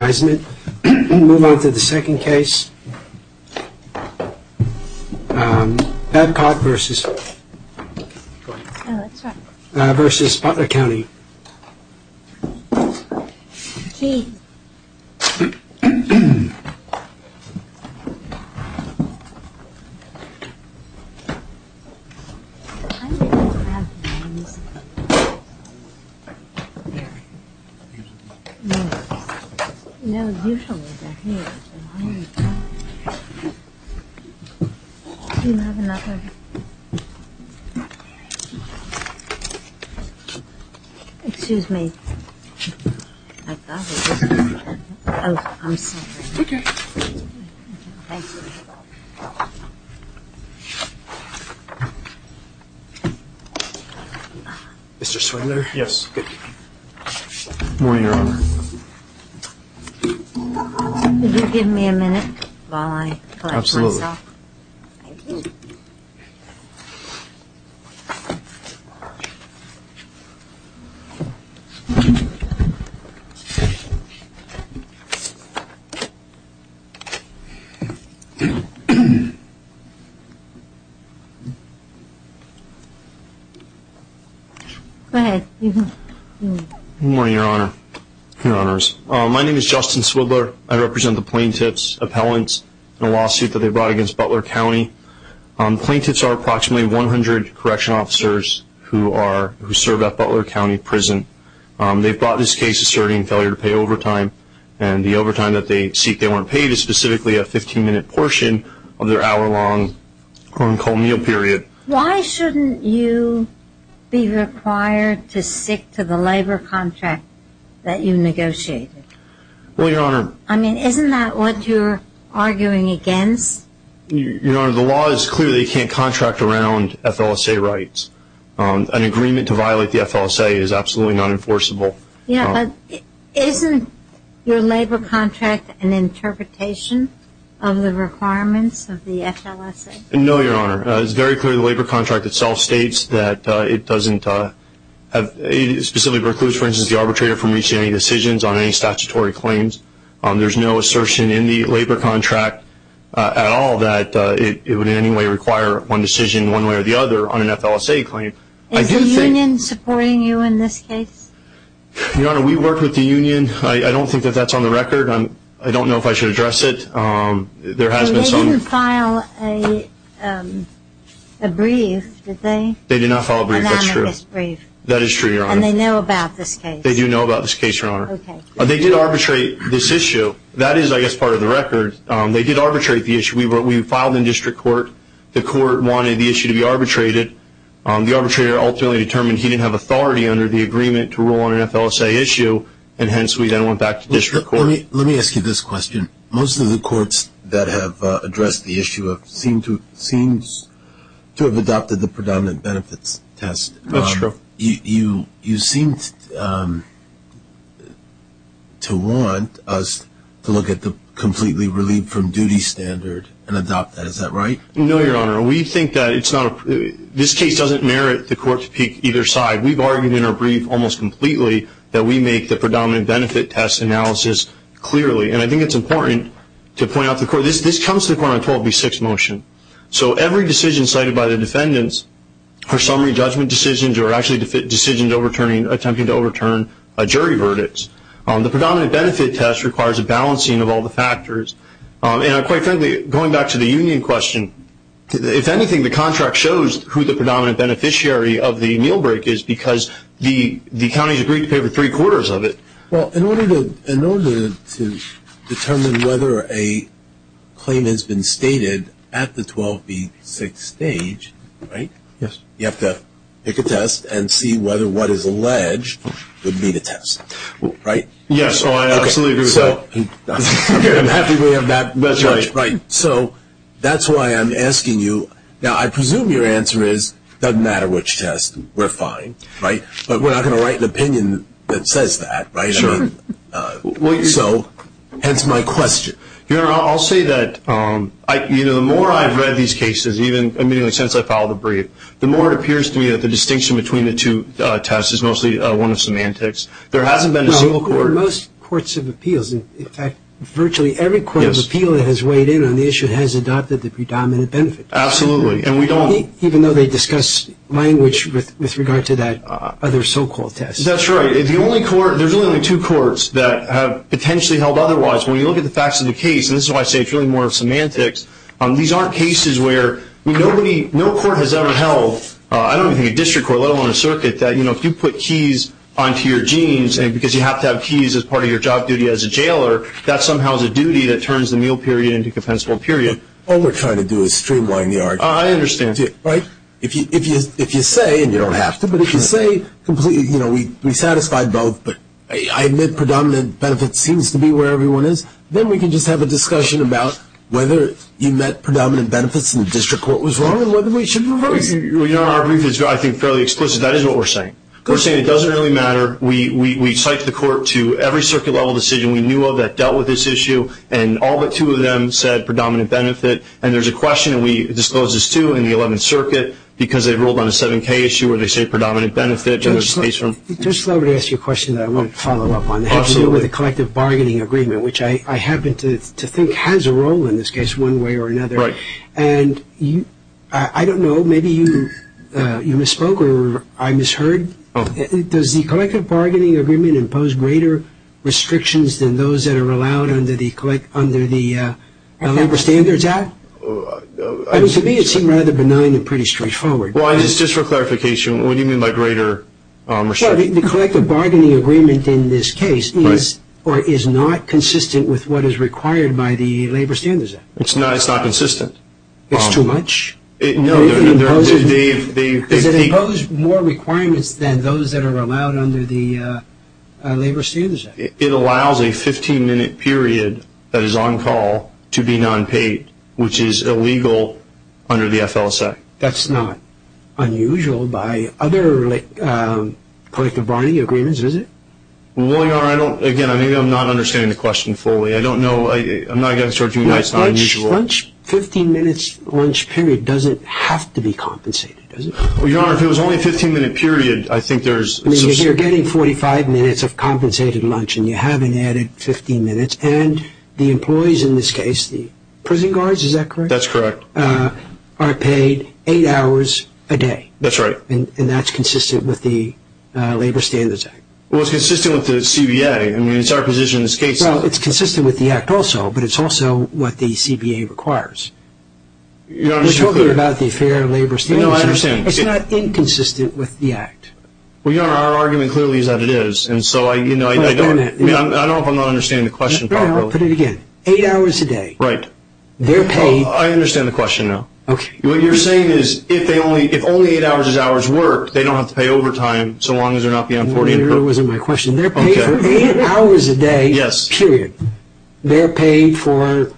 Move on to the second case, Babcock V.Butler County. Mr. Swindler, yes, good morning, Your Honor. Could you give me a minute while I collect myself? Absolutely. Thank you. Go ahead. Good morning, Your Honor, Your Honors. My name is Justin Swindler. I represent the plaintiff's appellants in a lawsuit that they brought against Butler County. Plaintiffs are approximately 100 correction officers who serve at Butler County Prison. They've brought this case asserting failure to pay overtime, and the overtime that they seek they weren't paid is specifically a 15-minute portion of their hour-long cold meal period. Why shouldn't you be required to stick to the labor contract that you negotiated? Well, Your Honor. I mean, isn't that what you're arguing against? Your Honor, the law is clear that you can't contract around FLSA rights. An agreement to violate the FLSA is absolutely not enforceable. Yeah, but isn't your labor contract an interpretation of the requirements of the FLSA? No, Your Honor. It's very clear the labor contract itself states that it doesn't specifically preclude, for instance, the arbitrator from reaching any decisions on any statutory claims. There's no assertion in the labor contract at all that it would in any way require one decision one way or the other on an FLSA claim. Is the union supporting you in this case? Your Honor, we work with the union. I don't think that that's on the record. I don't know if I should address it. They didn't file a brief, did they? They did not file a brief, that's true. An anonymous brief. That is true, Your Honor. And they know about this case? They do know about this case, Your Honor. Okay. They did arbitrate this issue. That is, I guess, part of the record. They did arbitrate the issue. We filed in district court. The court wanted the issue to be arbitrated. The arbitrator ultimately determined he didn't have authority under the agreement to rule on an FLSA issue, and hence we then went back to district court. Let me ask you this question. Most of the courts that have addressed the issue seem to have adopted the predominant benefits test. That's true. You seem to want us to look at the completely relieved from duty standard and adopt that. Is that right? No, Your Honor. We think that this case doesn't merit the court to pick either side. We've argued in our brief almost completely that we make the predominant benefit test analysis clearly, and I think it's important to point out to the court this comes to the court on a 12B6 motion. So every decision cited by the defendants are summary judgment decisions or actually decisions attempting to overturn a jury verdict. The predominant benefit test requires a balancing of all the factors. And quite frankly, going back to the union question, if anything, the contract shows who the predominant beneficiary of the meal break is because the counties agreed to pay for three-quarters of it. Well, in order to determine whether a claim has been stated at the 12B6 stage, right? Yes. You have to pick a test and see whether what is alleged would be the test, right? Yes. Oh, I absolutely agree with that. I'm happy we have that. That's right. Right. So that's why I'm asking you. Now, I presume your answer is it doesn't matter which test, we're fine, right? But we're not going to write an opinion that says that, right? Sure. So hence my question. Your Honor, I'll say that the more I've read these cases, even immediately since I filed the brief, the more it appears to me that the distinction between the two tests is mostly one of semantics. There hasn't been a single court. Well, in most courts of appeals, in fact, virtually every court of appeal that has weighed in on the issue has adopted the predominant benefit test. Absolutely. Even though they discuss language with regard to that other so-called test. That's right. There's only two courts that have potentially held otherwise. When you look at the facts of the case, and this is why I say it's really more of semantics, these aren't cases where no court has ever held, I don't even think a district court, let alone a circuit, that if you put keys onto your jeans, because you have to have keys as part of your job duty as a jailer, that somehow is a duty that turns the meal period into a compensable period. All we're trying to do is streamline the argument. I understand, too. Right? If you say, and you don't have to, but if you say completely, you know, we satisfied both, but I admit predominant benefit seems to be where everyone is, then we can just have a discussion about whether you meant predominant benefits and the district court was wrong and whether we should reverse it. Our brief is, I think, fairly explicit. That is what we're saying. We're saying it doesn't really matter. We cite the court to every circuit-level decision we knew of that dealt with this issue, and all but two of them said predominant benefit. And there's a question, and we disclose this, too, in the 11th Circuit, because they ruled on a 7K issue where they say predominant benefit. Judge Slover to ask you a question that I want to follow up on. Absolutely. It has to do with the collective bargaining agreement, which I happen to think has a role in this case one way or another. Right. And I don't know, maybe you misspoke or I misheard. Does the collective bargaining agreement impose greater restrictions than those that are allowed under the Labor Standards Act? To me it seemed rather benign and pretty straightforward. Just for clarification, what do you mean by greater restrictions? The collective bargaining agreement in this case is or is not consistent with what is required by the Labor Standards Act. It's not consistent. It's too much? No. Does it impose more requirements than those that are allowed under the Labor Standards Act? It allows a 15-minute period that is on call to be non-paid, which is illegal under the FLSA. That's not unusual by other collective bargaining agreements, is it? William, again, maybe I'm not understanding the question fully. I don't know. I'm not going to start you. It's not unusual. A 15-minute lunch period doesn't have to be compensated, does it? Your Honor, if it was only a 15-minute period, I think there's some... You're getting 45 minutes of compensated lunch and you haven't added 15 minutes, and the employees in this case, the prison guards, is that correct? That's correct. Are paid eight hours a day. That's right. And that's consistent with the Labor Standards Act. Well, it's consistent with the CBA. I mean, it's our position in this case. Well, it's consistent with the act also, but it's also what the CBA requires. You're talking about the fair labor standards. No, I understand. It's not inconsistent with the act. Well, Your Honor, our argument clearly is that it is. And so I don't know if I'm not understanding the question properly. Put it again. Eight hours a day. Right. They're paid... I understand the question now. Okay. What you're saying is if only eight hours is hours worked, they don't have to pay overtime so long as they're not beyond 40. That really wasn't my question. They're paid for eight hours a day. Yes. Period. They're paid for,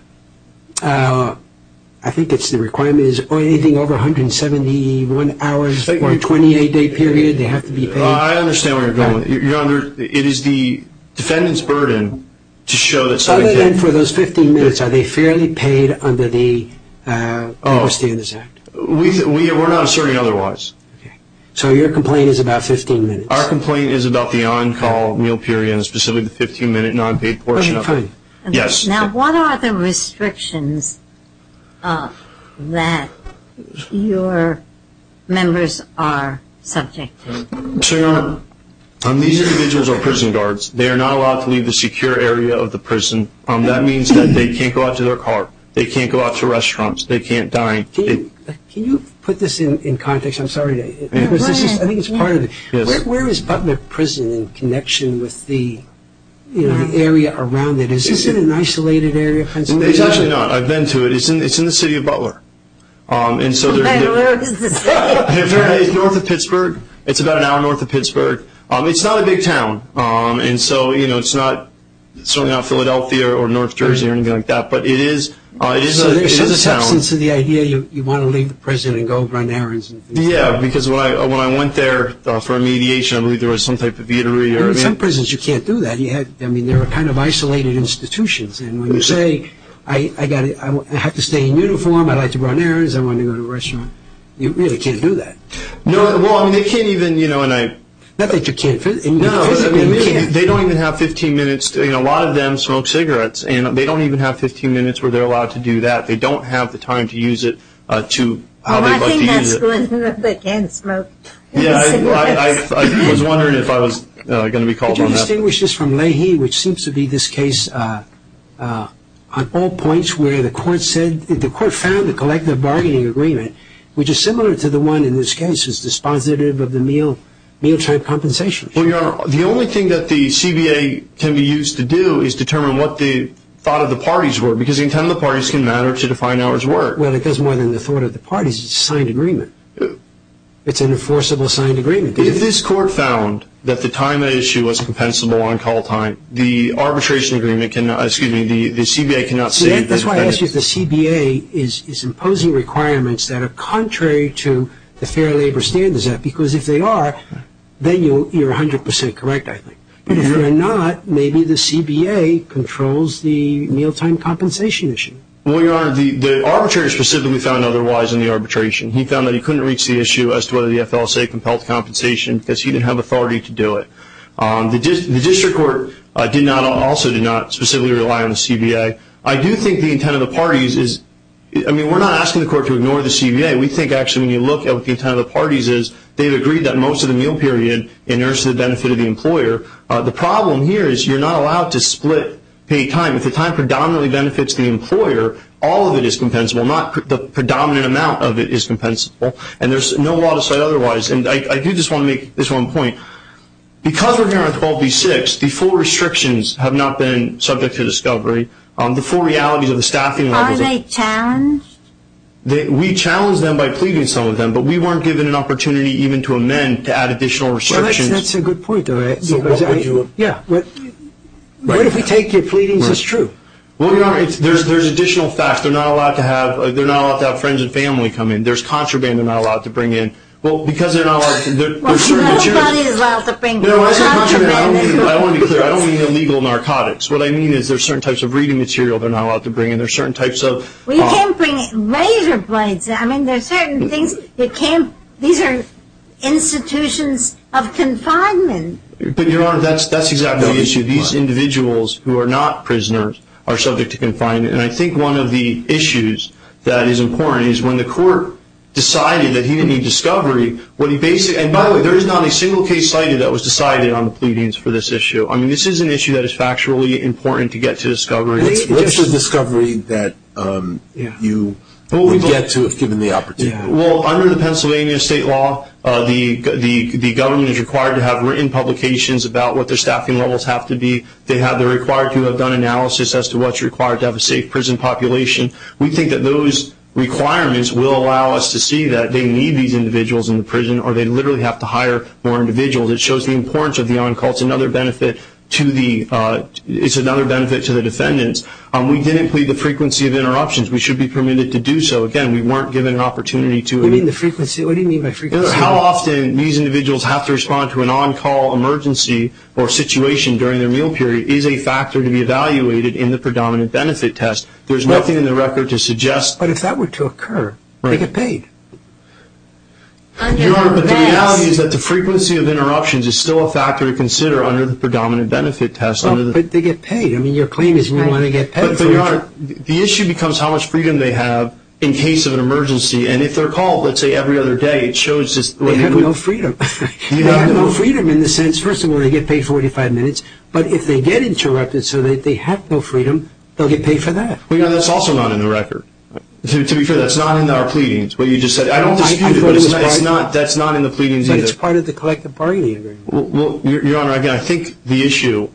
I think it's the requirement, is anything over 171 hours for a 28-day period. They have to be paid. I understand where you're going. Your Honor, it is the defendant's burden to show that somebody can... Other than for those 15 minutes, are they fairly paid under the Labor Standards Act? We're not asserting otherwise. Okay. So your complaint is about 15 minutes. Our complaint is about the on-call meal period, and specifically the 15-minute non-paid portion of it. Yes. Now what are the restrictions that your members are subject to? Your Honor, these individuals are prison guards. They are not allowed to leave the secure area of the prison. That means that they can't go out to their car. They can't go out to restaurants. They can't dine. Can you put this in context? I'm sorry. I think it's part of the... Where is Butler Prison in connection with the area around it? Is it an isolated area, Pennsylvania? It's actually not. I've been to it. It's in the city of Butler. Man, where is this? It's north of Pittsburgh. It's about an hour north of Pittsburgh. It's not a big town, and so it's not Philadelphia or North Jersey or anything like that, but it is a town. So there's some substance to the idea you want to leave the prison and go run errands. Yeah, because when I went there for a mediation, I believe there was some type of eatery. In some prisons you can't do that. I mean, they're kind of isolated institutions, and when you say, I have to stay in uniform, I like to run errands, I want to go to a restaurant, you really can't do that. No, well, I mean, they can't even, you know, and I... Not that you can't physically. No, I mean, they don't even have 15 minutes. A lot of them smoke cigarettes, and they don't even have 15 minutes where they're allowed to do that. I think that's good, that they can smoke cigarettes. Yeah, I was wondering if I was going to be called on that. Could you distinguish this from Leahy, which seems to be this case on all points where the court said, the court found the collective bargaining agreement, which is similar to the one in this case, is dispositive of the meal-time compensation. Well, Your Honor, the only thing that the CBA can be used to do is determine what the thought of the parties were, because the intent of the parties can matter to define how it's worked. Well, it does more than the thought of the parties, it's a signed agreement. It's an enforceable signed agreement. If this court found that the time at issue was compensable on call time, the arbitration agreement cannot, excuse me, the CBA cannot say... See, that's why I asked you if the CBA is imposing requirements that are contrary to the fair labor standards, because if they are, then you're 100% correct, I think. But if they're not, maybe the CBA controls the meal-time compensation issue. Well, Your Honor, the arbitrator specifically found otherwise in the arbitration. He found that he couldn't reach the issue as to whether the FLSA compelled compensation, because he didn't have authority to do it. The district court also did not specifically rely on the CBA. I do think the intent of the parties is... I mean, we're not asking the court to ignore the CBA. We think, actually, when you look at what the intent of the parties is, they've agreed that most of the meal period inheres to the benefit of the employer. The problem here is you're not allowed to split paid time. If the time predominantly benefits the employer, all of it is compensable, not the predominant amount of it is compensable. And there's no law to say otherwise. And I do just want to make this one point. Because we're here on 12B-6, the full restrictions have not been subject to discovery. The full realities of the staffing levels... Are they challenged? We challenge them by pleading some of them, but we weren't given an opportunity even to amend to add additional restrictions. Well, that's a good point, though. Yeah. What if we take your pleadings as true? Well, there's additional facts. They're not allowed to have friends and family come in. There's contraband they're not allowed to bring in. Well, because they're not allowed... Nobody is allowed to bring in contraband. I want to be clear. I don't mean illegal narcotics. What I mean is there's certain types of reading material they're not allowed to bring in. There's certain types of... Well, you can't bring in laser blades. I mean, there's certain things that can't... These are institutions of confinement. But, Your Honor, that's exactly the issue. These individuals who are not prisoners are subject to confinement. And I think one of the issues that is important is when the court decided that he didn't need discovery, what he basically... And, by the way, there is not a single case cited that was decided on the pleadings for this issue. I mean, this is an issue that is factually important to get to discovery. What's the discovery that you would get to if given the opportunity? Well, under the Pennsylvania state law, the government is required to have written publications about what their staffing levels have to be. They have the required to have done analysis as to what's required to have a safe prison population. We think that those requirements will allow us to see that they need these individuals in the prison or they literally have to hire more individuals. It shows the importance of the on-call. It's another benefit to the defendants. We didn't plead the frequency of interruptions. We should be permitted to do so. Again, we weren't given an opportunity to... What do you mean by frequency? How often these individuals have to respond to an on-call emergency or situation during their meal period is a factor to be evaluated in the predominant benefit test. There's nothing in the record to suggest... But if that were to occur, they get paid. Your Honor, the reality is that the frequency of interruptions is still a factor to consider under the predominant benefit test. But they get paid. I mean, your claim is we want to get paid. But Your Honor, the issue becomes how much freedom they have in case of an emergency. And if they're called, let's say, every other day, it shows just... They have no freedom. They have no freedom in the sense, first of all, they get paid 45 minutes, but if they get interrupted so that they have no freedom, they'll get paid for that. Well, Your Honor, that's also not in the record. To be fair, that's not in our pleadings, what you just said. I don't dispute it, but that's not in the pleadings either. But it's part of the collective bargaining agreement. Well, Your Honor, again, I think the issue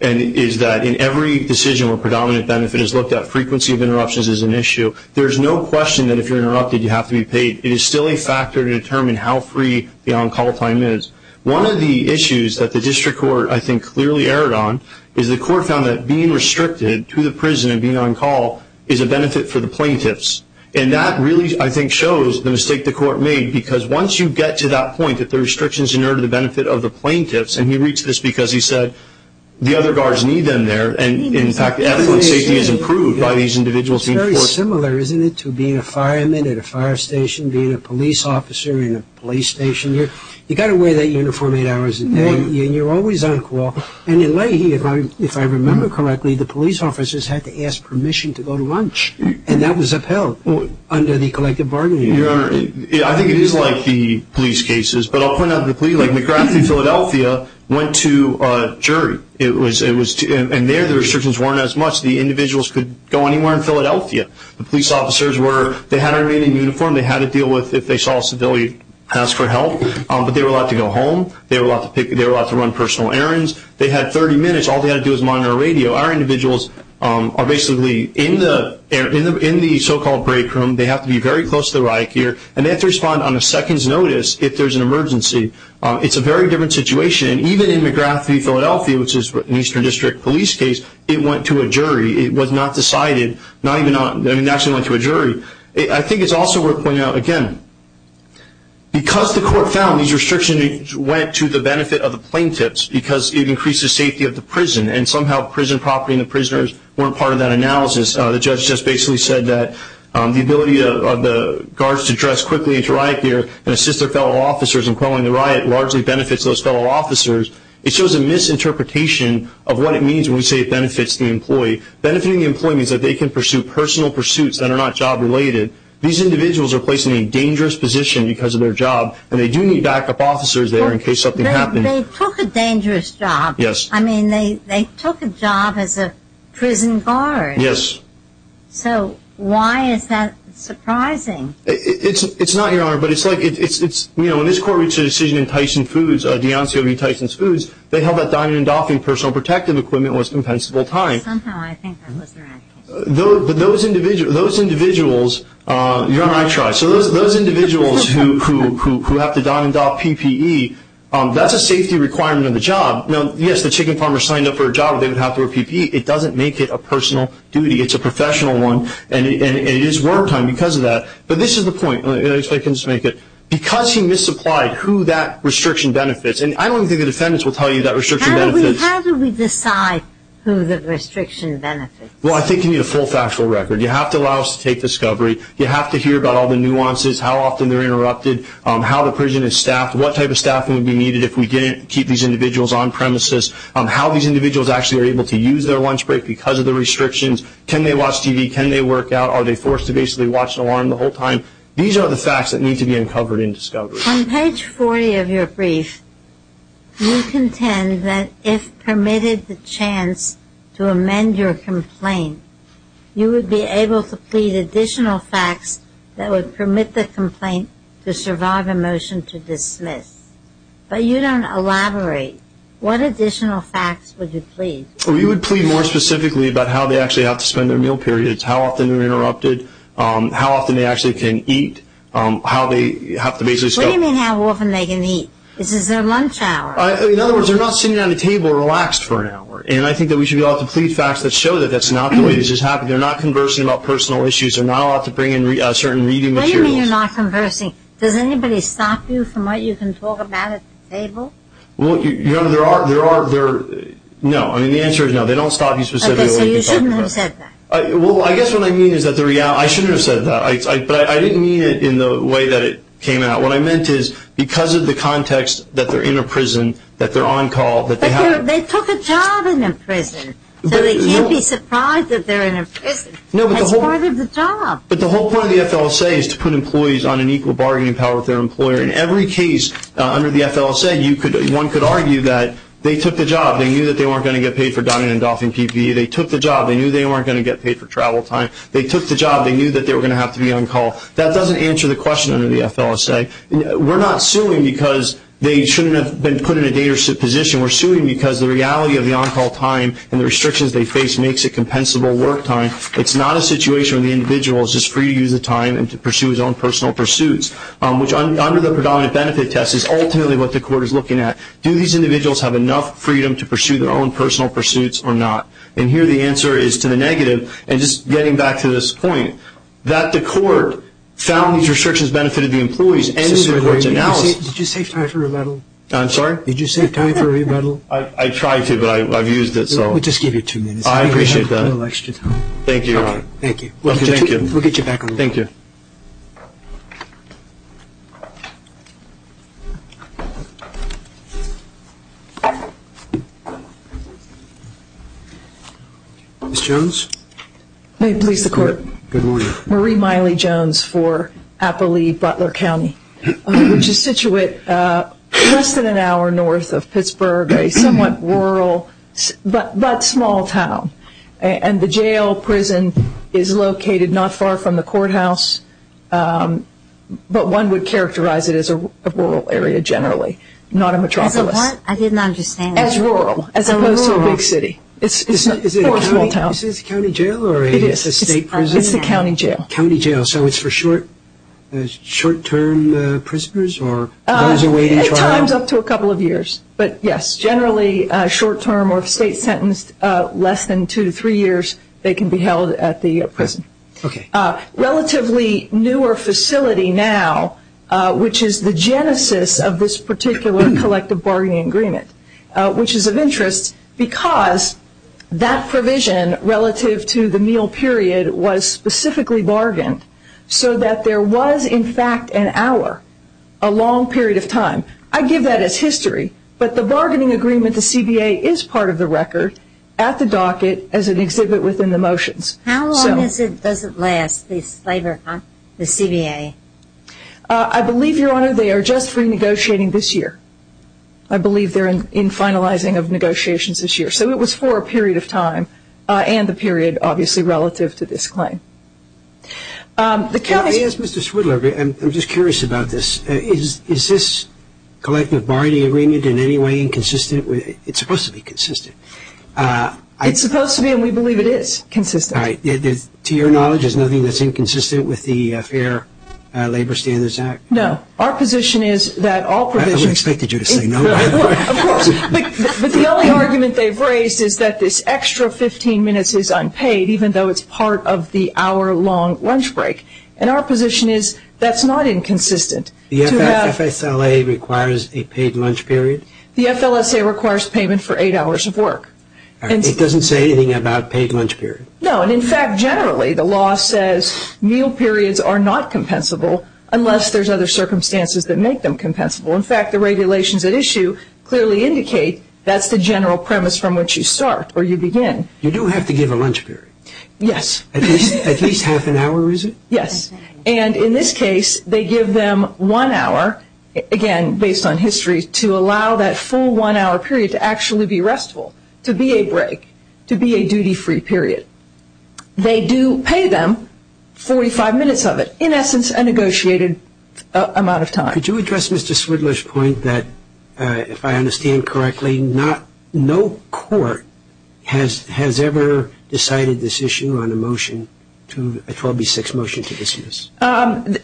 is that in every decision where predominant benefit is looked at, frequency of interruptions is an issue. There's no question that if you're interrupted, you have to be paid. It is still a factor to determine how free the on-call time is. One of the issues that the district court, I think, clearly erred on is the court found that being restricted to the prison and being on-call is a benefit for the plaintiffs. And that really, I think, shows the mistake the court made, because once you get to that point that the restriction is in order to the benefit of the plaintiffs, and he reached this because he said the other guards need them there, and in fact, ethical and safety is improved by these individuals being forced... It's very similar, isn't it, to being a fireman at a fire station, being a police officer in a police station. You've got to wear that uniform eight hours a day, and you're always on-call. And in Leahy, if I remember correctly, the police officers had to ask permission to go to lunch, and that was upheld under the collective bargaining agreement. Your Honor, I think it is like the police cases, but I'll point out the police... Like McGrath in Philadelphia went to a jury, and there the restrictions weren't as much. The individuals could go anywhere in Philadelphia. The police officers were... They had to remain in uniform. They had to deal with if they saw a civilian ask for help, but they were allowed to go home. They were allowed to run personal errands. They had 30 minutes. All they had to do was monitor a radio. Our individuals are basically in the so-called break room. They have to be very close to the riot gear, and they have to respond on a second's notice if there's an emergency. It's a very different situation, and even in McGrath v. Philadelphia, which is an Eastern District police case, it went to a jury. It was not decided. It actually went to a jury. I think it's also worth pointing out, again, because the court found these restrictions went to the benefit of the plaintiffs because it increases safety of the prison, and somehow prison property and the prisoners weren't part of that analysis. The judge just basically said that the ability of the guards to dress quickly into riot gear and assist their fellow officers in quelling the riot largely benefits those fellow officers. It shows a misinterpretation of what it means when we say it benefits the employee. Benefiting the employee means that they can pursue personal pursuits that are not job-related. These individuals are placed in a dangerous position because of their job, and they do need backup officers there in case something happens. They took a dangerous job. Yes. I mean, they took a job as a prison guard. Yes. So why is that surprising? It's not, Your Honor, but it's like it's, you know, when this court reached a decision in Tyson Foods, DeAncio v. Tyson Foods, they held that dining and doffing personal protective equipment was impenetrable time. Somehow I think that was the riot case. But those individuals, Your Honor, I tried. So those individuals who have to dine and doff PPE, that's a safety requirement on the job. Now, yes, the chicken farmer signed up for a job where they would have to wear PPE. It doesn't make it a personal duty. It's a professional one, and it is work time because of that. But this is the point, if I can just make it. Because he misapplied who that restriction benefits, and I don't think the defendants will tell you that restriction benefits. How do we decide who the restriction benefits? Well, I think you need a full factual record. You have to allow us to take discovery. You have to hear about all the nuances, how often they're interrupted, how the prison is staffed, what type of staffing would be needed if we didn't keep these individuals on premises, how these individuals actually are able to use their lunch break because of the restrictions. Can they watch TV? Can they work out? Are they forced to basically watch an alarm the whole time? These are the facts that need to be uncovered in discovery. On page 40 of your brief, you contend that if permitted the chance to amend your complaint, you would be able to plead additional facts that would permit the complaint to survive a motion to dismiss. But you don't elaborate. What additional facts would you plead? We would plead more specifically about how they actually have to spend their meal periods, how often they're interrupted, how often they actually can eat, how they have to basically stop. What do you mean how often they can eat? This is their lunch hour. In other words, they're not sitting at a table relaxed for an hour. And I think that we should be able to plead facts that show that that's not the way this is happening. They're not conversing about personal issues. They're not allowed to bring in certain reading materials. What do you mean you're not conversing? Does anybody stop you from what you can talk about at the table? Well, you know, there are, there are, there are, no. I mean, the answer is no. They don't stop you specifically what you can talk about. Okay, so you shouldn't have said that. Well, I guess what I mean is that the reality, I shouldn't have said that. But I didn't mean it in the way that it came out. What I meant is because of the context that they're in a prison, that they're on call. But they took a job in a prison, so they can't be surprised that they're in a prison. No, but the whole. That's part of the job. But the whole point of the FLSA is to put employees on an equal bargaining power with their employer. In every case under the FLSA, you could, one could argue that they took the job. They knew that they weren't going to get paid for dining and doffing PPE. They took the job. They knew they weren't going to get paid for travel time. They took the job. They knew that they were going to have to be on call. That doesn't answer the question under the FLSA. We're not suing because they shouldn't have been put in a date or position. We're suing because the reality of the on-call time and the restrictions they face makes it compensable work time. It's not a situation where the individual is just free to use the time and to pursue his own personal pursuits, which under the predominant benefit test is ultimately what the court is looking at. Do these individuals have enough freedom to pursue their own personal pursuits or not? And here the answer is to the negative. And just getting back to this point, that the court found these restrictions benefited the employees and the court's analysis. Did you save time for rebuttal? I'm sorry? Did you save time for rebuttal? I tried to, but I've used it, so. We'll just give you two minutes. I appreciate that. You have a little extra time. Thank you, Your Honor. Thank you. We'll get you back on the floor. Thank you. Ms. Jones? May it please the Court? Good morning. Marie Miley Jones for Appalachia Butler County, which is situated less than an hour north of Pittsburgh, a somewhat rural but small town. And the jail prison is located not far from the courthouse, but one would characterize it as a rural area generally, not a metropolis. As a what? I didn't understand. As rural, as opposed to a big city. It's a small town. Is this a county jail or a state prison? It's a county jail. County jail. So it's for short-term prisoners or those awaiting trial? At times up to a couple of years. But, yes, generally short-term or if a state is sentenced less than two to three years, they can be held at the prison. Okay. A relatively newer facility now, which is the genesis of this particular collective bargaining agreement, which is of interest because that provision relative to the meal period was specifically bargained so that there was, in fact, an hour, a long period of time. I give that as history. But the bargaining agreement to CBA is part of the record at the docket as an exhibit within the motions. How long does it last, this labor, the CBA? I believe, Your Honor, they are just renegotiating this year. I believe they're in finalizing of negotiations this year. So it was for a period of time and the period, obviously, relative to this claim. Let me ask Mr. Swidler. I'm just curious about this. Is this collective bargaining agreement in any way inconsistent? It's supposed to be consistent. It's supposed to be, and we believe it is consistent. All right. To your knowledge, there's nothing that's inconsistent with the Fair Labor Standards Act? No. Our position is that all provisions... I would have expected you to say no. Of course. But the only argument they've raised is that this extra 15 minutes is unpaid, even though it's part of the hour-long lunch break. And our position is that's not inconsistent. The FSLA requires a paid lunch period? The FLSA requires payment for eight hours of work. All right. It doesn't say anything about paid lunch period? No. In fact, generally, the law says meal periods are not compensable unless there's other circumstances that make them compensable. In fact, the regulations at issue clearly indicate that's the general premise from which you start or you begin. You do have to give a lunch period? Yes. At least half an hour, is it? Yes. And in this case, they give them one hour, again, based on history, to allow that full one-hour period to actually be restful, to be a break, to be a duty-free period. They do pay them 45 minutes of it, in essence, a negotiated amount of time. Could you address Mr. Swidler's point that, if I understand correctly, no court has ever decided this issue on a motion, a 12B6 motion to dismiss?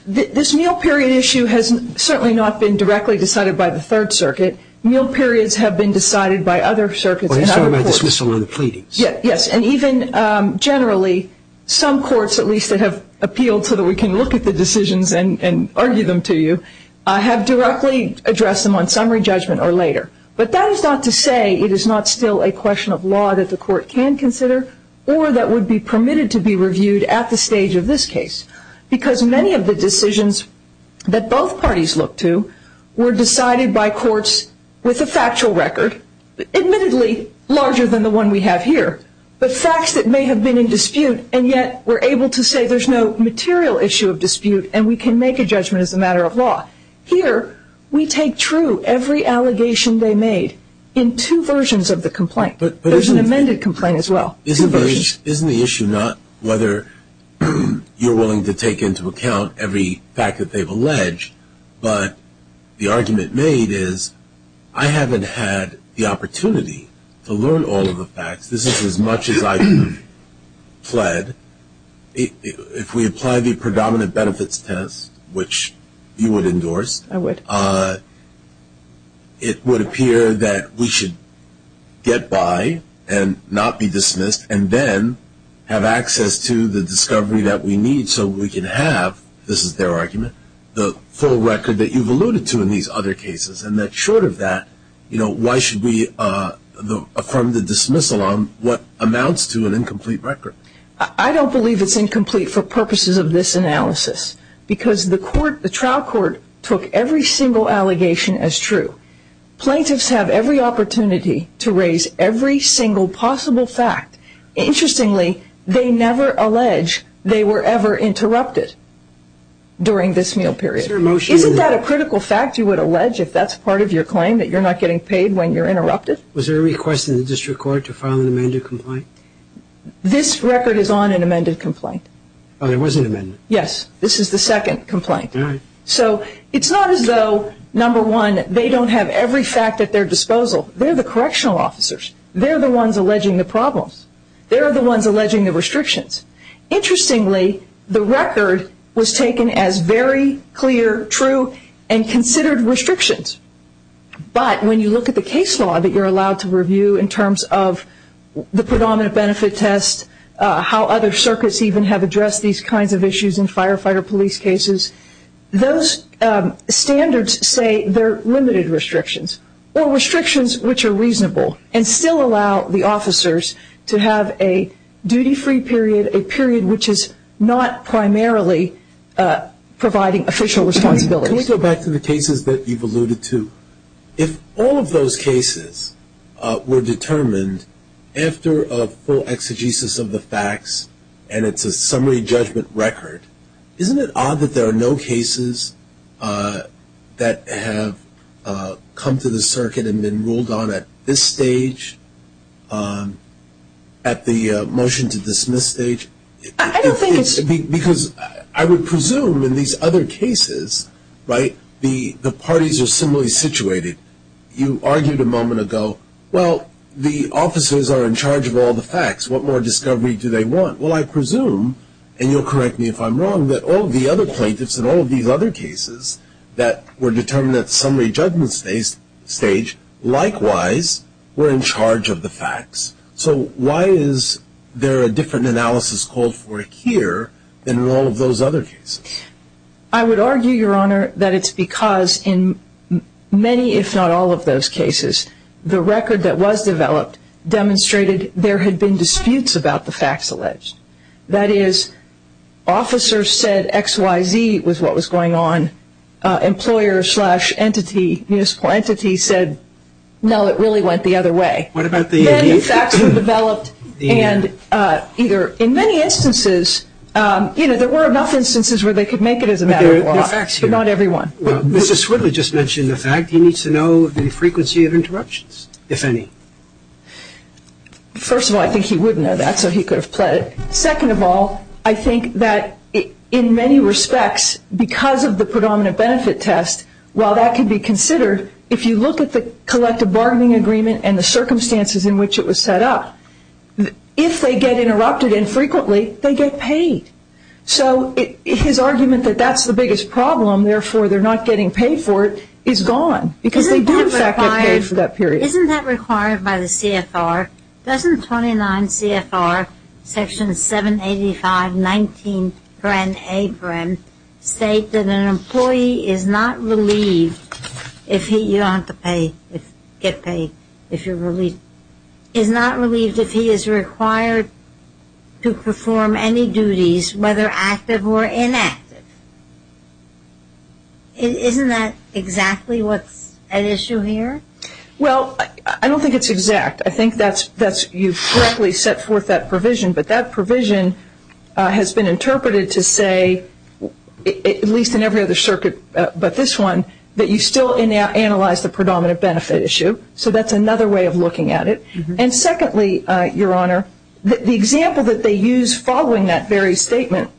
This meal period issue has certainly not been directly decided by the Third Circuit. Meal periods have been decided by other circuits and other courts. Well, he's talking about dismissal and pleadings. Yes. And even generally, some courts, at least that have appealed so that we can look at the decisions and argue them to you, have directly addressed them on summary judgment or later. But that is not to say it is not still a question of law that the court can consider or that would be permitted to be reviewed at the stage of this case. Because many of the decisions that both parties look to were decided by courts with a factual record, admittedly larger than the one we have here, but facts that may have been in dispute, and yet were able to say there's no material issue of dispute and we can make a judgment as a matter of law. Here, we take true every allegation they made in two versions of the complaint. There's an amended complaint as well, two versions. Isn't the issue not whether you're willing to take into account every fact that they've alleged, but the argument made is I haven't had the opportunity to learn all of the facts. This is as much as I've fled. If we apply the predominant benefits test, which you would endorse, it would appear that we should get by and not be dismissed and then have access to the discovery that we need so we can have, this is their argument, the full record that you've alluded to in these other cases. And that short of that, why should we affirm the dismissal on what amounts to an incomplete record? I don't believe it's incomplete for purposes of this analysis because the trial court took every single allegation as true. Plaintiffs have every opportunity to raise every single possible fact. Interestingly, they never allege they were ever interrupted during this meal period. Isn't that a critical fact you would allege if that's part of your claim, that you're not getting paid when you're interrupted? Was there a request in the district court to file an amended complaint? This record is on an amended complaint. Oh, there was an amendment? Yes, this is the second complaint. So it's not as though, number one, they don't have every fact at their disposal. They're the correctional officers. They're the ones alleging the problems. They're the ones alleging the restrictions. Interestingly, the record was taken as very clear, true, and considered restrictions. But when you look at the case law that you're allowed to review in terms of the predominant benefit test, how other circuits even have addressed these kinds of issues in firefighter police cases, those standards say they're limited restrictions or restrictions which are reasonable and still allow the officers to have a duty-free period, a period which is not primarily providing official responsibilities. Can we go back to the cases that you've alluded to? If all of those cases were determined after a full exegesis of the facts and it's a summary judgment record, isn't it odd that there are no cases that have come to the circuit and been ruled on at this stage, at the motion to dismiss stage? I don't think it's – Because I would presume in these other cases, right, the parties are similarly situated. You argued a moment ago, well, the officers are in charge of all the facts. What more discovery do they want? Well, I presume, and you'll correct me if I'm wrong, that all of the other plaintiffs in all of these other cases that were determined at summary judgment stage, likewise, were in charge of the facts. So why is there a different analysis called for here than in all of those other cases? I would argue, Your Honor, that it's because in many, if not all of those cases, the record that was developed demonstrated there had been disputes about the facts alleged. That is, officers said X, Y, Z was what was going on. Employer slash entity, municipal entity said, no, it really went the other way. Many facts were developed and either in many instances, you know, there were enough instances where they could make it as a matter of law, but not every one. Mrs. Swidler just mentioned the fact he needs to know the frequency of interruptions, if any. First of all, I think he would know that, so he could have pled it. Second of all, I think that in many respects, because of the predominant benefit test, while that could be considered, if you look at the collective bargaining agreement and the circumstances in which it was set up, if they get interrupted infrequently, they get paid. So his argument that that's the biggest problem, therefore they're not getting paid for it, is gone. Because they do, in fact, get paid for that period. Isn't that required by the CFR? Doesn't 29 CFR Section 785-19-A state that an employee is not relieved if he, you don't have to get paid if you're relieved, is not relieved if he is required to perform any duties, whether active or inactive. Isn't that exactly what's at issue here? Well, I don't think it's exact. I think you've correctly set forth that provision, but that provision has been interpreted to say, at least in every other circuit but this one, that you still analyze the predominant benefit issue. So that's another way of looking at it. And secondly, Your Honor, the example that they use following that very statement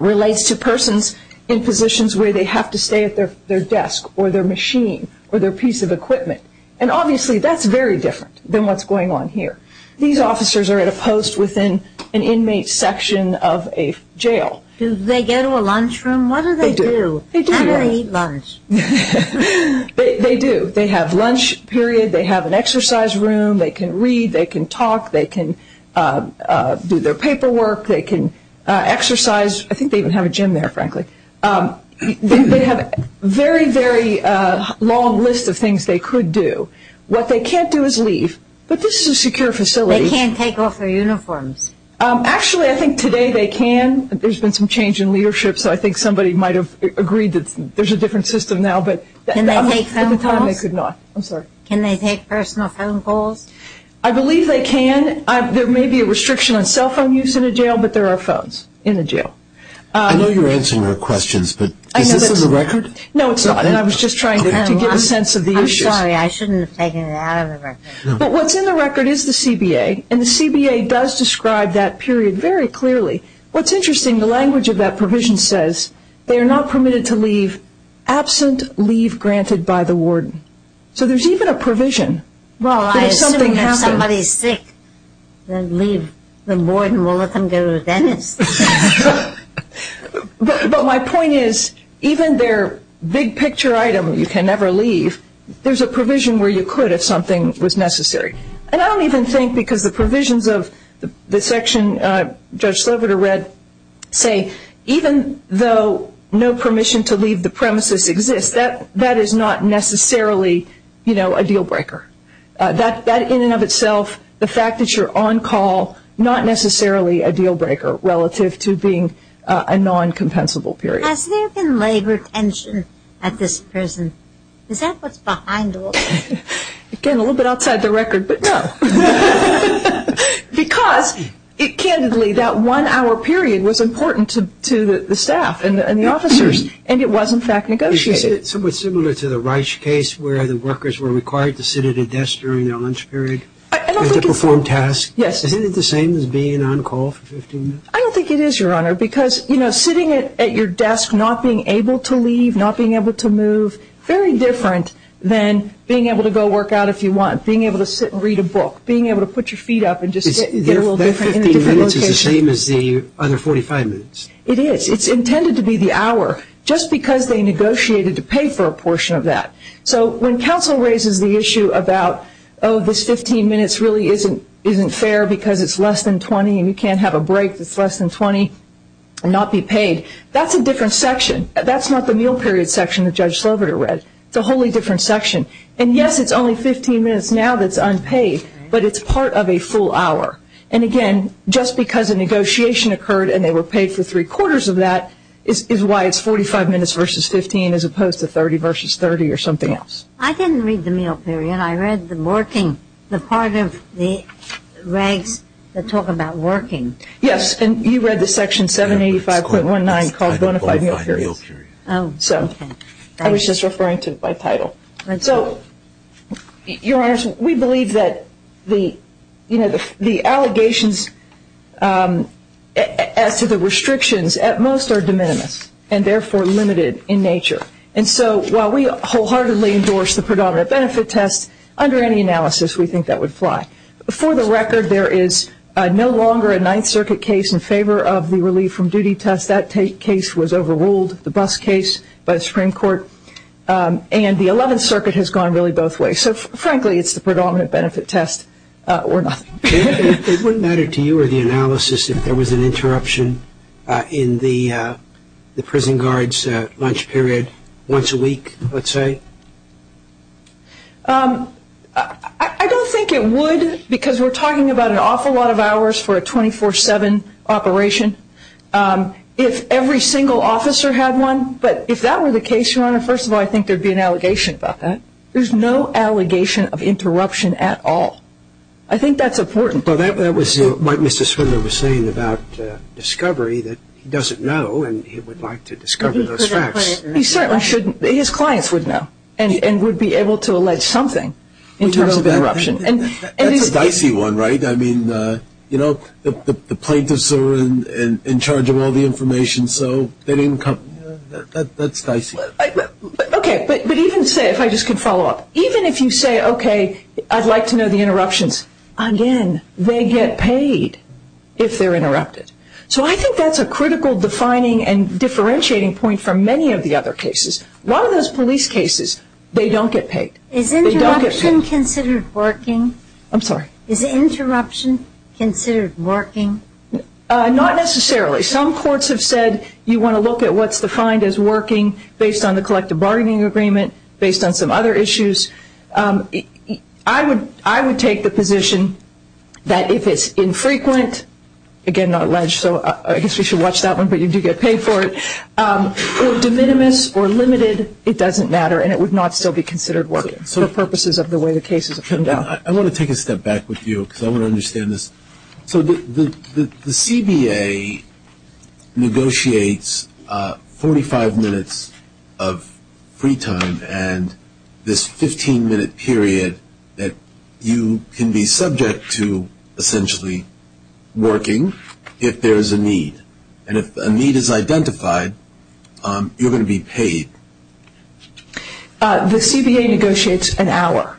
relates to persons in positions where they have to stay at their desk or their machine or their piece of equipment. And obviously that's very different than what's going on here. These officers are at a post within an inmate section of a jail. Do they go to a lunchroom? What do they do? They do. They don't eat lunch. They do. They have lunch period. They have an exercise room. They can read. They can talk. They can do their paperwork. They can exercise. I think they even have a gym there, frankly. They have a very, very long list of things they could do. What they can't do is leave. But this is a secure facility. They can't take off their uniforms. Actually, I think today they can. There's been some change in leadership, so I think somebody might have agreed that there's a different system now. Can they take phone calls? At the time they could not. I'm sorry. Can they take personal phone calls? I believe they can. There may be a restriction on cell phone use in a jail, but there are phones in a jail. I know you're answering her questions, but is this in the record? No, it's not, and I was just trying to give a sense of the issues. I'm sorry. I shouldn't have taken it out of the record. But what's in the record is the CBA, and the CBA does describe that period very clearly. What's interesting, the language of that provision says, they are not permitted to leave absent leave granted by the warden. So there's even a provision. Well, I assume if somebody's sick, the warden will let them go to the dentist. But my point is, even their big picture item, you can never leave, there's a provision where you could if something was necessary. And I don't even think because the provisions of the section Judge Sliverder read say, even though no permission to leave the premises exists, that is not necessarily a deal breaker. That in and of itself, the fact that you're on call, not necessarily a deal breaker relative to being a non-compensable period. Has there been labor tension at this prison? Is that what's behind all this? Again, a little bit outside the record, but no. Because candidly, that one hour period was important to the staff and the officers, and it was in fact negotiated. Is it somewhat similar to the Reich case, where the workers were required to sit at a desk during their lunch period to perform tasks? Yes. Isn't it the same as being on call for 15 minutes? I don't think it is, Your Honor, because sitting at your desk not being able to leave, not being able to move, very different than being able to go work out if you want, being able to sit and read a book, being able to put your feet up and just get a little different. Their 15 minutes is the same as the other 45 minutes? It is. It's intended to be the hour, just because they negotiated to pay for a portion of that. So when counsel raises the issue about, oh, this 15 minutes really isn't fair because it's less than 20 and you can't have a break that's less than 20 and not be paid, that's a different section. That's not the meal period section that Judge Sloboda read. It's a wholly different section. And yes, it's only 15 minutes now that's unpaid, but it's part of a full hour. And again, just because a negotiation occurred and they were paid for three-quarters of that, is why it's 45 minutes versus 15 as opposed to 30 versus 30 or something else. I didn't read the meal period. I read the working, the part of the regs that talk about working. Yes, and you read the section 785.19 called bona fide meal periods. So I was just referring to it by title. So, Your Honors, we believe that the allegations as to the restrictions at most are de minimis and therefore limited in nature. And so while we wholeheartedly endorse the predominant benefit test, under any analysis we think that would fly. For the record, there is no longer a Ninth Circuit case in favor of the relief from duty test. That case was overruled, the bus case, by the Supreme Court. And the Eleventh Circuit has gone really both ways. So, frankly, it's the predominant benefit test or nothing. It wouldn't matter to you or the analysis if there was an interruption in the prison guard's lunch period once a week, let's say? I don't think it would because we're talking about an awful lot of hours for a 24-7 operation if every single officer had one. But if that were the case, Your Honor, first of all, I think there would be an allegation about that. There's no allegation of interruption at all. I think that's important. Well, that was what Mr. Swindler was saying about discovery that he doesn't know and he would like to discover those facts. He certainly shouldn't. His clients would know. And would be able to allege something in terms of interruption. That's a dicey one, right? I mean, you know, the plaintiffs are in charge of all the information, so they didn't come. That's dicey. Okay. But even say, if I just can follow up, even if you say, okay, I'd like to know the interruptions, again, they get paid if they're interrupted. So I think that's a critical defining and differentiating point for many of the other cases. A lot of those police cases, they don't get paid. Is interruption considered working? I'm sorry? Is interruption considered working? Not necessarily. Some courts have said you want to look at what's defined as working based on the collective bargaining agreement, based on some other issues. I would take the position that if it's infrequent, again, not alleged, so I guess we should watch that one, but you do get paid for it, or de minimis or limited, it doesn't matter, and it would not still be considered working for purposes of the way the cases have turned out. I want to take a step back with you because I want to understand this. So the CBA negotiates 45 minutes of free time and this 15-minute period that you can be subject to essentially working if there is a need. And if a need is identified, you're going to be paid. The CBA negotiates an hour.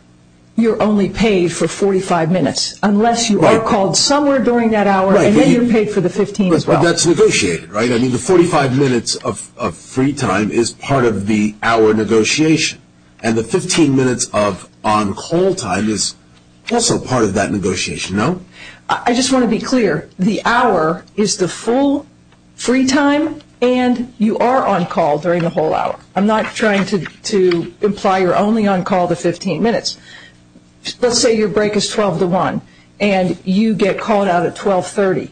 You're only paid for 45 minutes unless you are called somewhere during that hour and then you're paid for the 15 as well. But that's negotiated, right? I mean the 45 minutes of free time is part of the hour negotiation and the 15 minutes of on-call time is also part of that negotiation, no? I just want to be clear. The hour is the full free time and you are on-call during the whole hour. I'm not trying to imply you're only on-call the 15 minutes. Let's say your break is 12 to 1 and you get called out at 1230.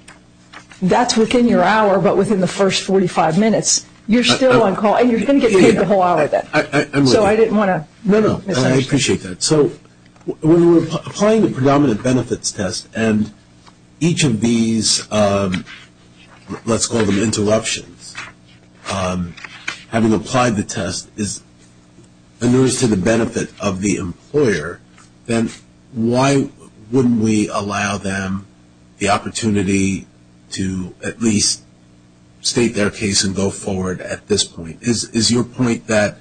That's within your hour, but within the first 45 minutes you're still on-call and you're going to get paid the whole hour then. So I didn't want to mislead you. No, no, I appreciate that. So when we're applying the predominant benefits test and each of these let's call them interruptions, having applied the test is a nurse to the benefit of the employer, then why wouldn't we allow them the opportunity to at least state their case and go forward at this point? Is your point that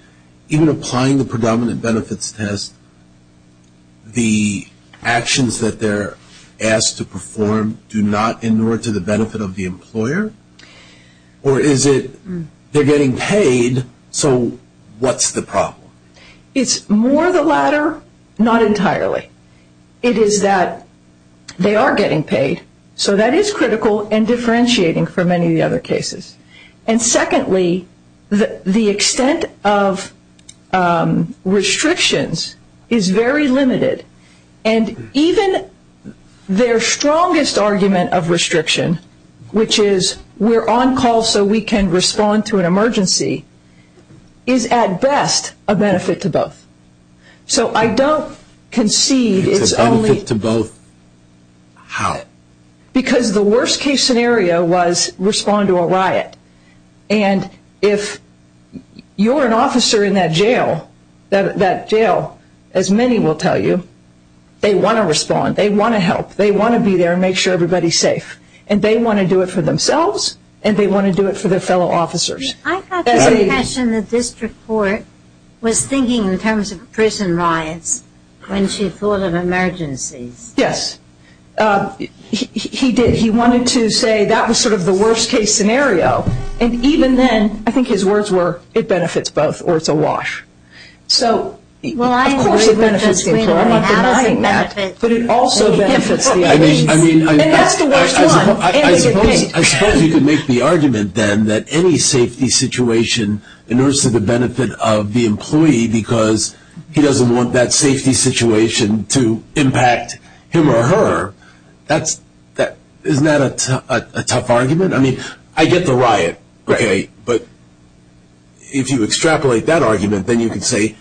even applying the predominant benefits test, the actions that they're asked to perform do not inure to the benefit of the employer? Or is it they're getting paid, so what's the problem? It's more the latter, not entirely. It is that they are getting paid, so that is critical and differentiating for many of the other cases. And secondly, the extent of restrictions is very limited, and even their strongest argument of restriction, which is we're on-call so we can respond to an emergency, is at best a benefit to both. So I don't concede it's only... It's a benefit to both how? Because the worst case scenario was respond to a riot, and if you're an officer in that jail, that jail, as many will tell you, they want to respond, they want to help, they want to be there and make sure everybody's safe, and they want to do it for themselves and they want to do it for their fellow officers. I got the impression that this report was thinking in terms of prison riots when she thought of emergencies. Yes. He wanted to say that was sort of the worst case scenario, and even then I think his words were it benefits both or it's a wash. So of course it benefits the employee, but it also benefits the employee. And that's the worst one. I suppose you could make the argument then that any safety situation endures to the benefit of the employee because he doesn't want that safety situation to impact him or her. Isn't that a tough argument? I mean, I get the riot, okay, but if you extrapolate that argument, then you could say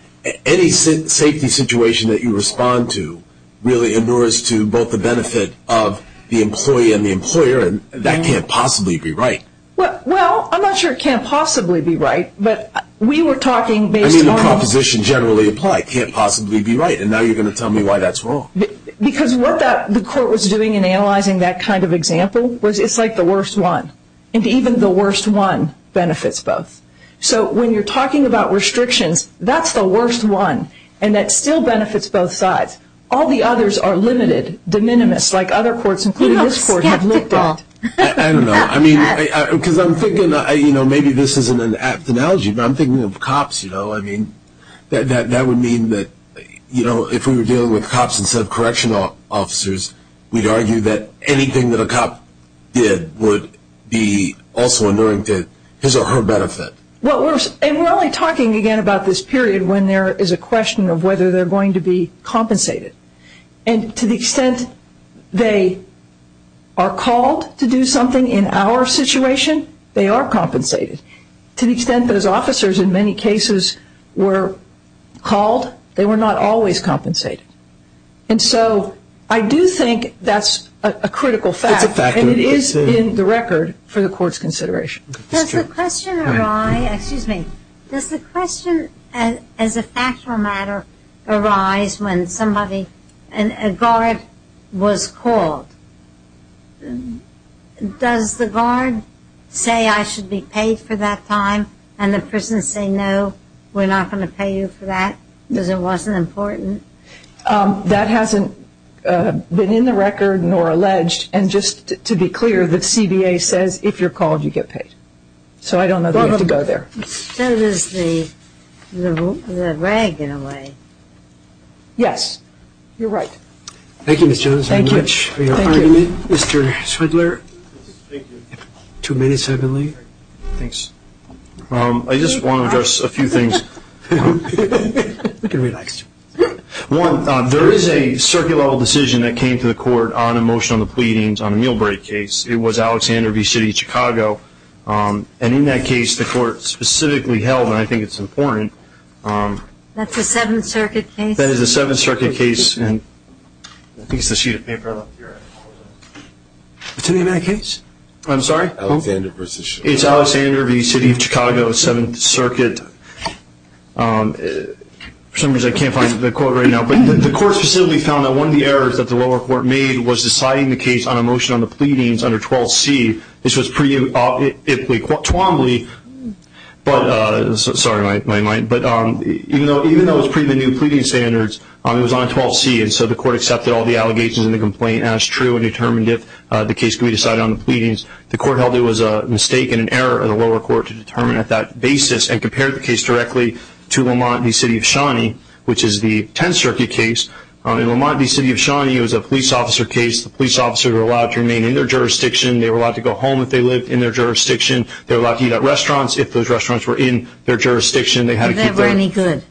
any safety situation that you respond to really endures to both the benefit of the employee and the employer, and that can't possibly be right. Well, I'm not sure it can't possibly be right, but we were talking based on... I mean, the proposition generally applied, can't possibly be right, and now you're going to tell me why that's wrong. Because what the court was doing in analyzing that kind of example was it's like the worst one, and even the worst one benefits both. So when you're talking about restrictions, that's the worst one, and that still benefits both sides. All the others are limited, de minimis, like other courts, including this court, have looked at. I don't know. I mean, because I'm thinking, you know, maybe this isn't an apt analogy, but I'm thinking of cops, you know. I mean, that would mean that, you know, if we were dealing with cops instead of correctional officers, we'd argue that anything that a cop did would be also enduring to his or her benefit. And we're only talking again about this period when there is a question of whether they're going to be compensated, and to the extent they are called to do something in our situation, they are compensated. To the extent those officers in many cases were called, they were not always compensated. And so I do think that's a critical fact, and it is in the record for the court's consideration. Does the question arise, excuse me, does the question as a factual matter arise when somebody, a guard, was called? Does the guard say, I should be paid for that time, and the person say, no, we're not going to pay you for that because it wasn't important? That hasn't been in the record nor alleged, and just to be clear, the CBA says if you're called, you get paid. So I don't know that we have to go there. That is the regular way. Yes, you're right. Thank you, Ms. Jones, very much for your argument. Thank you. Mr. Swindler. Thank you. Too many suddenly? Thanks. I just want to address a few things. We can relax. One, there is a circuit level decision that came to the court on a motion of the pleadings on a meal break case. It was Alexander v. City of Chicago, and in that case, the court specifically held, and I think it's important. That's a Seventh Circuit case? That is a Seventh Circuit case, and I think it's the sheet of paper up here. What's the name of that case? I'm sorry? Alexander v. City of Chicago. Alexander v. City of Chicago, Seventh Circuit. For some reason, I can't find the quote right now. But the court specifically found that one of the errors that the lower court made was deciding the case on a motion on the pleadings under 12C. This was pre-Twombly. Sorry, my mind. But even though it was pre the new pleading standards, it was on 12C, and so the court accepted all the allegations in the complaint as true and determined if the case could be decided on the pleadings. The court held it was a mistake and an error of the lower court to determine at that basis and compared the case directly to Lamont v. City of Shawnee, which is the Tenth Circuit case. In Lamont v. City of Shawnee, it was a police officer case. The police officers were allowed to remain in their jurisdiction. They were allowed to go home if they lived in their jurisdiction. They were allowed to eat at restaurants if those restaurants were in their jurisdiction. They had to keep their... If they were any good.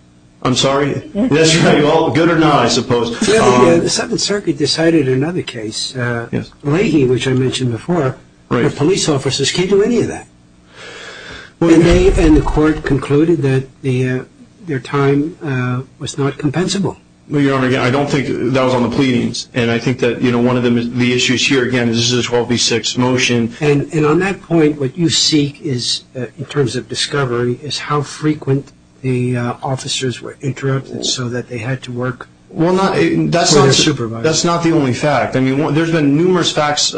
I'm sorry? That's right. Good or not, I suppose. The Seventh Circuit decided another case, Leahy, which I mentioned before, but police officers can't do any of that. And the court concluded that their time was not compensable. Your Honor, I don't think that was on the pleadings, and I think that one of the issues here, again, is this is a 12B6 motion. And on that point, what you seek in terms of discovery is how frequent the officers were interrupted so that they had to work. Well, that's not the only fact. I mean, there's been numerous facts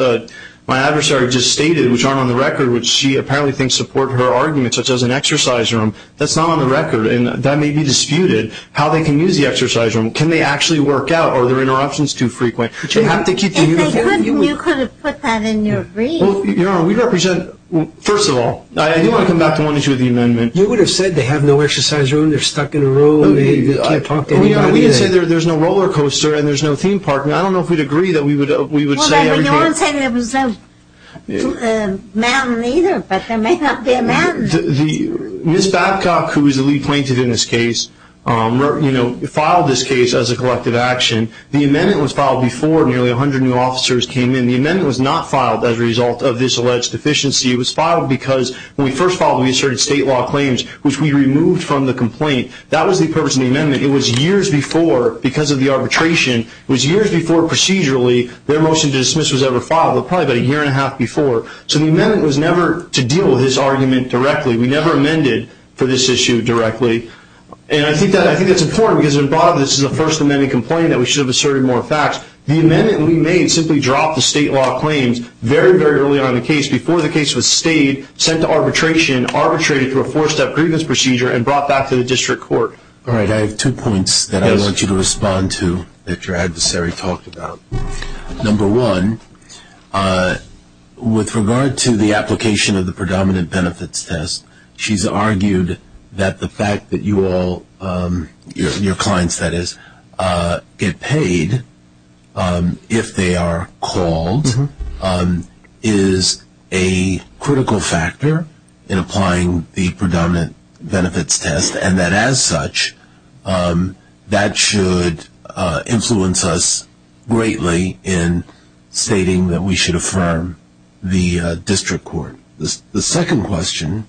my adversary just stated, which aren't on the record, which she apparently thinks support her argument, such as an exercise room. That's not on the record, and that may be disputed, how they can use the exercise room. Can they actually work out? Are their interruptions too frequent? But you have to keep the uniform. If they couldn't, you could have put that in your brief. Your Honor, we represent, first of all, I do want to come back to one issue of the amendment. You would have said they have no exercise room, they're stuck in a row, We can say there's no roller coaster and there's no theme park, and I don't know if we'd agree that we would say everything. You wouldn't say there was no mountain either, but there may not be a mountain. Ms. Babcock, who is the lead plaintiff in this case, filed this case as a collective action. The amendment was filed before nearly 100 new officers came in. The amendment was not filed as a result of this alleged deficiency. It was filed because when we first filed, we asserted state law claims, which we removed from the complaint. That was the purpose of the amendment. It was years before because of the arbitration. It was years before procedurally their motion to dismiss was ever filed. It was probably about a year and a half before. So the amendment was never to deal with this argument directly. We never amended for this issue directly. And I think that's important because at the bottom of this is a First Amendment complaint that we should have asserted more facts. The amendment we made simply dropped the state law claims very, very early on in the case, before the case was stayed, sent to arbitration, arbitrated through a four-step grievance procedure, and brought back to the district court. All right. I have two points that I want you to respond to that your adversary talked about. Number one, with regard to the application of the predominant benefits test, she's argued that the fact that you all, your clients, that is, get paid if they are called, is a critical factor in applying the predominant benefits test, and that as such that should influence us greatly in stating that we should affirm the district court. The second question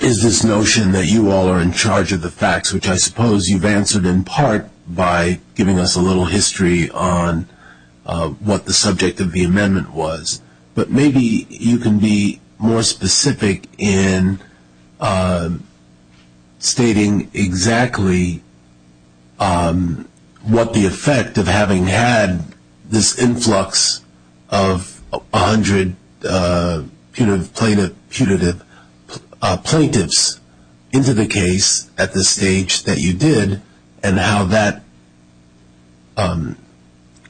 is this notion that you all are in charge of the facts, which I suppose you've answered in part by giving us a little history on what the subject of the amendment was. But maybe you can be more specific in stating exactly what the effect of having had this influx of 100 plaintiffs into the case at the stage that you did, and how that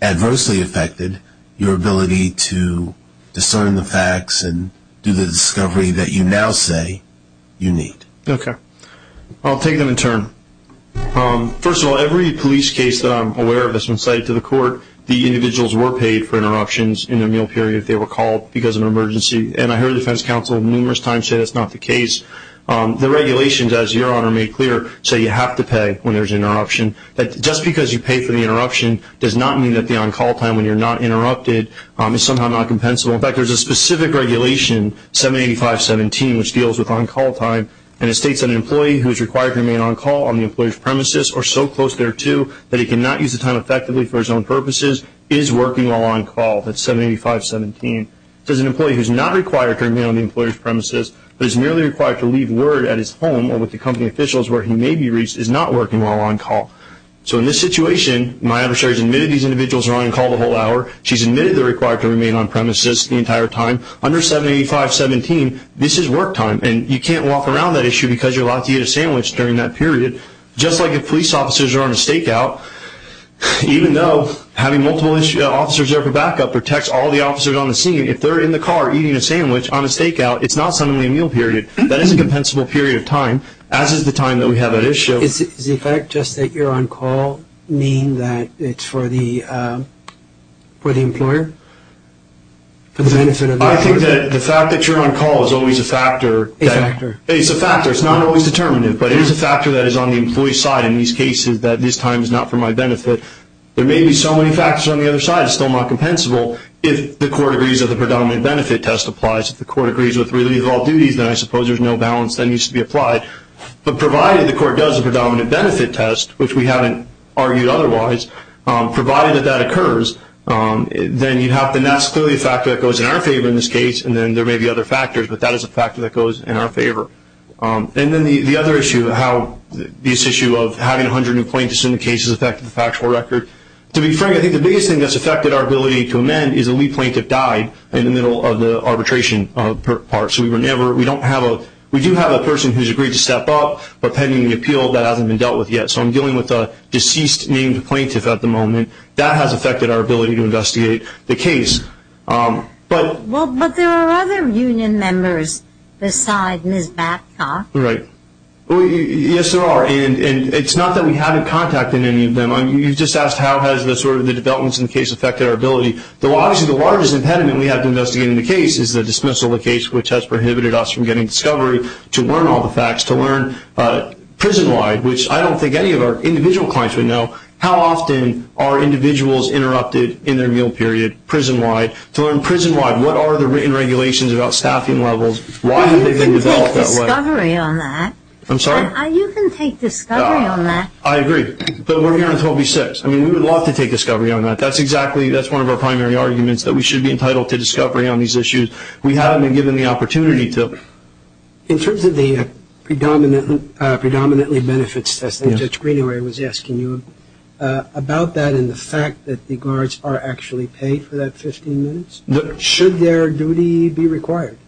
adversely affected your ability to discern the facts and do the discovery that you now say you need. Okay. I'll take them in turn. First of all, every police case that I'm aware of that's been cited to the court, the individuals were paid for interruptions in their meal period if they were called because of an emergency. And I heard the defense counsel numerous times say that's not the case. The regulations, as Your Honor made clear, say you have to pay when there's an interruption. Just because you pay for the interruption does not mean that the on-call time when you're not interrupted is somehow not compensable. In fact, there's a specific regulation, 785.17, which deals with on-call time, and it states that an employee who is required to remain on-call on the employer's premises or so close thereto that he cannot use the time effectively for his own purposes is working while on-call. That's 785.17. It says an employee who is not required to remain on the employer's premises but is merely required to leave word at his home or with the company officials where he may be reached is not working while on-call. So in this situation, my adversary has admitted these individuals are on-call the whole hour. She's admitted they're required to remain on-premises the entire time. Under 785.17, this is work time, and you can't walk around that issue because you're allowed to eat a sandwich during that period. Just like if police officers are on a stakeout, even though having multiple officers there for backup protects all the officers on the scene, if they're in the car eating a sandwich on a stakeout, it's not suddenly a meal period. That is a compensable period of time, as is the time that we have at issue. Does the fact just that you're on-call mean that it's for the employer? I think that the fact that you're on-call is always a factor. A factor. It's a factor. It's not always determinative, but it is a factor that is on the employee's side in these cases that this time is not for my benefit. There may be so many factors on the other side, it's still not compensable, if the court agrees that the predominant benefit test applies. If the court agrees with relief of all duties, then I suppose there's no balance that needs to be applied. But provided the court does a predominant benefit test, which we haven't argued otherwise, provided that that occurs, then that's clearly a factor that goes in our favor in this case, and then there may be other factors, but that is a factor that goes in our favor. And then the other issue of how this issue of having 100 new plaintiffs in the case has affected the factual record. To be frank, I think the biggest thing that's affected our ability to amend is a lead plaintiff died in the middle of the arbitration part. We do have a person who's agreed to step up, but pending the appeal, that hasn't been dealt with yet. So I'm dealing with a deceased named plaintiff at the moment. That has affected our ability to investigate the case. Well, but there are other union members beside Ms. Batcock. Right. Yes, there are, and it's not that we haven't contacted any of them. You just asked how has the developments in the case affected our ability. Obviously, the largest impediment we have to investigate in the case is the dismissal of the case, which has prohibited us from getting discovery to learn all the facts, to learn prison-wide, which I don't think any of our individual clients would know. How often are individuals interrupted in their meal period prison-wide to learn prison-wide? What are the written regulations about staffing levels? Why have they been developed that way? You can take discovery on that. I'm sorry? You can take discovery on that. I agree, but we're here on 12B-6. I mean, we would love to take discovery on that. That's exactly one of our primary arguments, that we should be entitled to discovery on these issues. We haven't been given the opportunity to. In terms of the predominantly benefits test, Judge Greenaway was asking you about that and the fact that the guards are actually paid for that 15 minutes. Should their duty be required?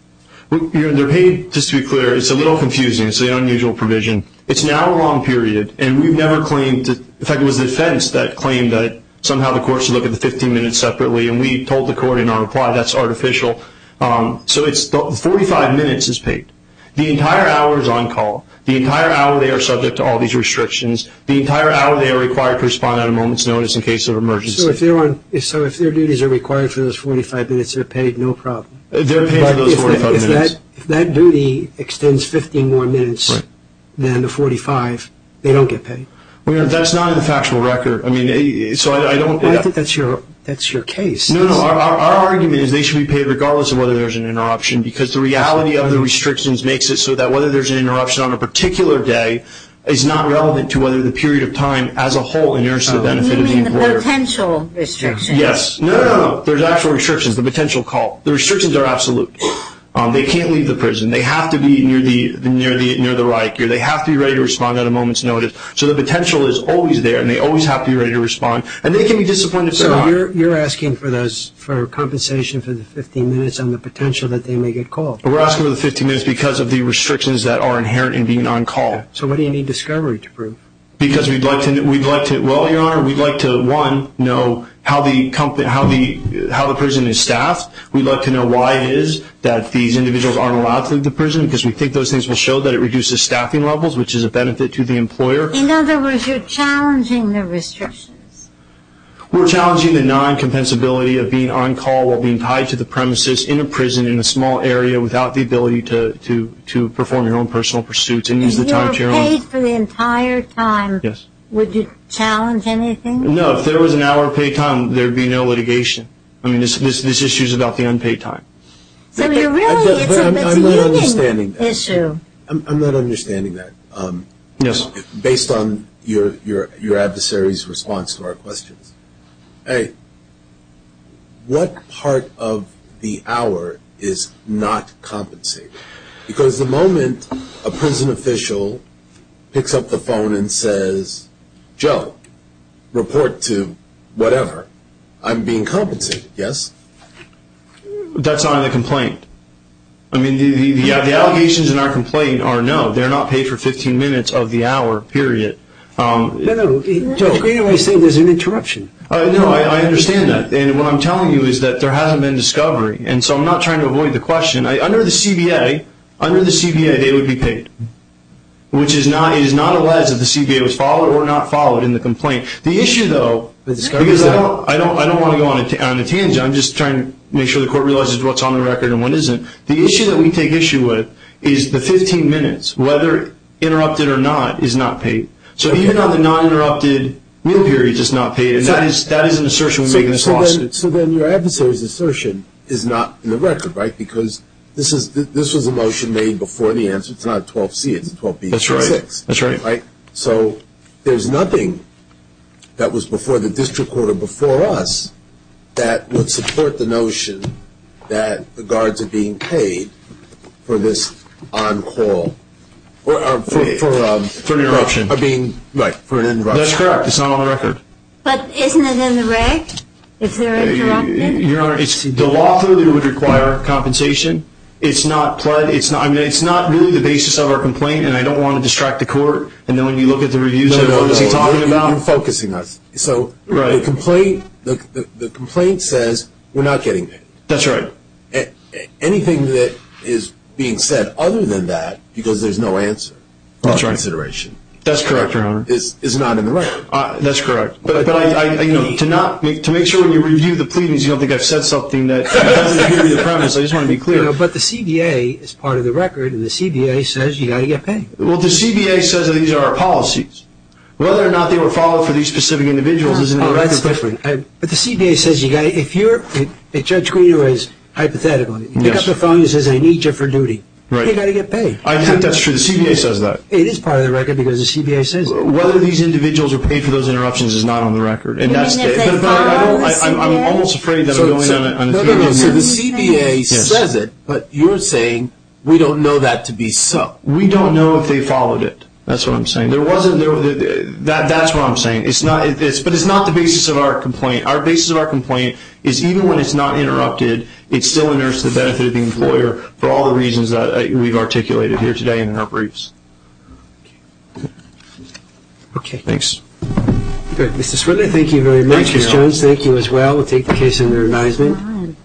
They're paid, just to be clear. It's a little confusing. It's an unusual provision. It's now a long period, and we've never claimed to – in fact, it was the defense that claimed that somehow the court should look at the 15 minutes separately, and we told the court in our reply that's artificial. So 45 minutes is paid. The entire hour is on call. The entire hour they are subject to all these restrictions. The entire hour they are required to respond on a moment's notice in case of emergency. So if their duties are required for those 45 minutes, they're paid, no problem. They're paid for those 45 minutes. But if that duty extends 15 more minutes than the 45, they don't get paid. That's not in the factual record. I think that's your case. No, no. Our argument is they should be paid regardless of whether there's an interruption because the reality of the restrictions makes it so that whether there's an interruption on a particular day is not relevant to whether the period of time as a whole inheres to the benefit of the employer. You mean the potential restrictions? Yes. No, no, no. There's actual restrictions, the potential call. The restrictions are absolute. They can't leave the prison. They have to be near the Reich. They have to be ready to respond at a moment's notice. And they can be disciplined if they're not. So you're asking for compensation for the 15 minutes and the potential that they may get called. We're asking for the 15 minutes because of the restrictions that are inherent in being on call. So what do you need discovery to prove? Because we'd like to, well, Your Honor, we'd like to, one, know how the prison is staffed. We'd like to know why it is that these individuals aren't allowed to leave the prison because we think those things will show that it reduces staffing levels, which is a benefit to the employer. In other words, you're challenging the restrictions. We're challenging the non-compensability of being on call while being tied to the premises in a prison in a small area without the ability to perform your own personal pursuits and use the time to your own. If you were paid for the entire time, would you challenge anything? No, if there was an hour of paid time, there would be no litigation. I mean this issue is about the unpaid time. So you're really, it's a misusing issue. I'm not understanding that. Yes. Based on your adversary's response to our questions, hey, what part of the hour is not compensated? Because the moment a prison official picks up the phone and says, Joe, report to whatever, I'm being compensated, yes? That's not in the complaint. I mean the allegations in our complaint are no. They're not paid for 15 minutes of the hour, period. No, no. Judge Greenaway is saying there's an interruption. No, I understand that. And what I'm telling you is that there hasn't been discovery. And so I'm not trying to avoid the question. Under the CBA, under the CBA, they would be paid, which is not, it is not alleged that the CBA was followed or not followed in the complaint. The issue, though, because I don't want to go on a tangent. I'm just trying to make sure the Court realizes what's on the record and what isn't. The issue that we take issue with is the 15 minutes, whether interrupted or not, is not paid. So even on the non-interrupted meal period, it's not paid. And that is an assertion we make in this lawsuit. So then your adversary's assertion is not in the record, right? Because this was a motion made before the answer. It's not a 12C. It's a 12B. That's right. That's right. So there's nothing that was before the district court or before us that would support the notion that the guards are being paid for this on call. For an interruption. Right, for an interruption. That's correct. It's not on the record. But isn't it in the rec? Is there an interruption? Your Honor, the law clearly would require compensation. It's not pled. No, no, no. You're not focusing us. So the complaint says we're not getting paid. That's right. Anything that is being said other than that, because there's no answer. That's right. No consideration. That's correct, Your Honor. Is not in the record. That's correct. But to make sure when you review the pleadings, you don't think I've said something that doesn't agree with the premise. I just want to be clear. But the CBA is part of the record, and the CBA says you've got to get paid. Well, the CBA says these are our policies. Whether or not they were followed for these specific individuals is not on the record. That's different. But the CBA says you've got to – if you're – if Judge Greenaway is hypothetically, you pick up the phone and he says, I need you for duty. Right. You've got to get paid. I think that's true. The CBA says that. It is part of the record because the CBA says it. Whether these individuals are paid for those interruptions is not on the record. And that's – You mean if they follow the CBA? I'm almost afraid that I'm going on a theory here. No, no, no. So the CBA says it, but you're saying we don't know that to be so. We don't know if they followed it. That's what I'm saying. There wasn't – that's what I'm saying. It's not – but it's not the basis of our complaint. Our basis of our complaint is even when it's not interrupted, it still inerts the benefit of the employer for all the reasons that we've articulated here today in our briefs. Okay. Thanks. Good. Mr. Swindler, thank you very much. Ms. Jones, thank you as well. We'll take the case under advisement.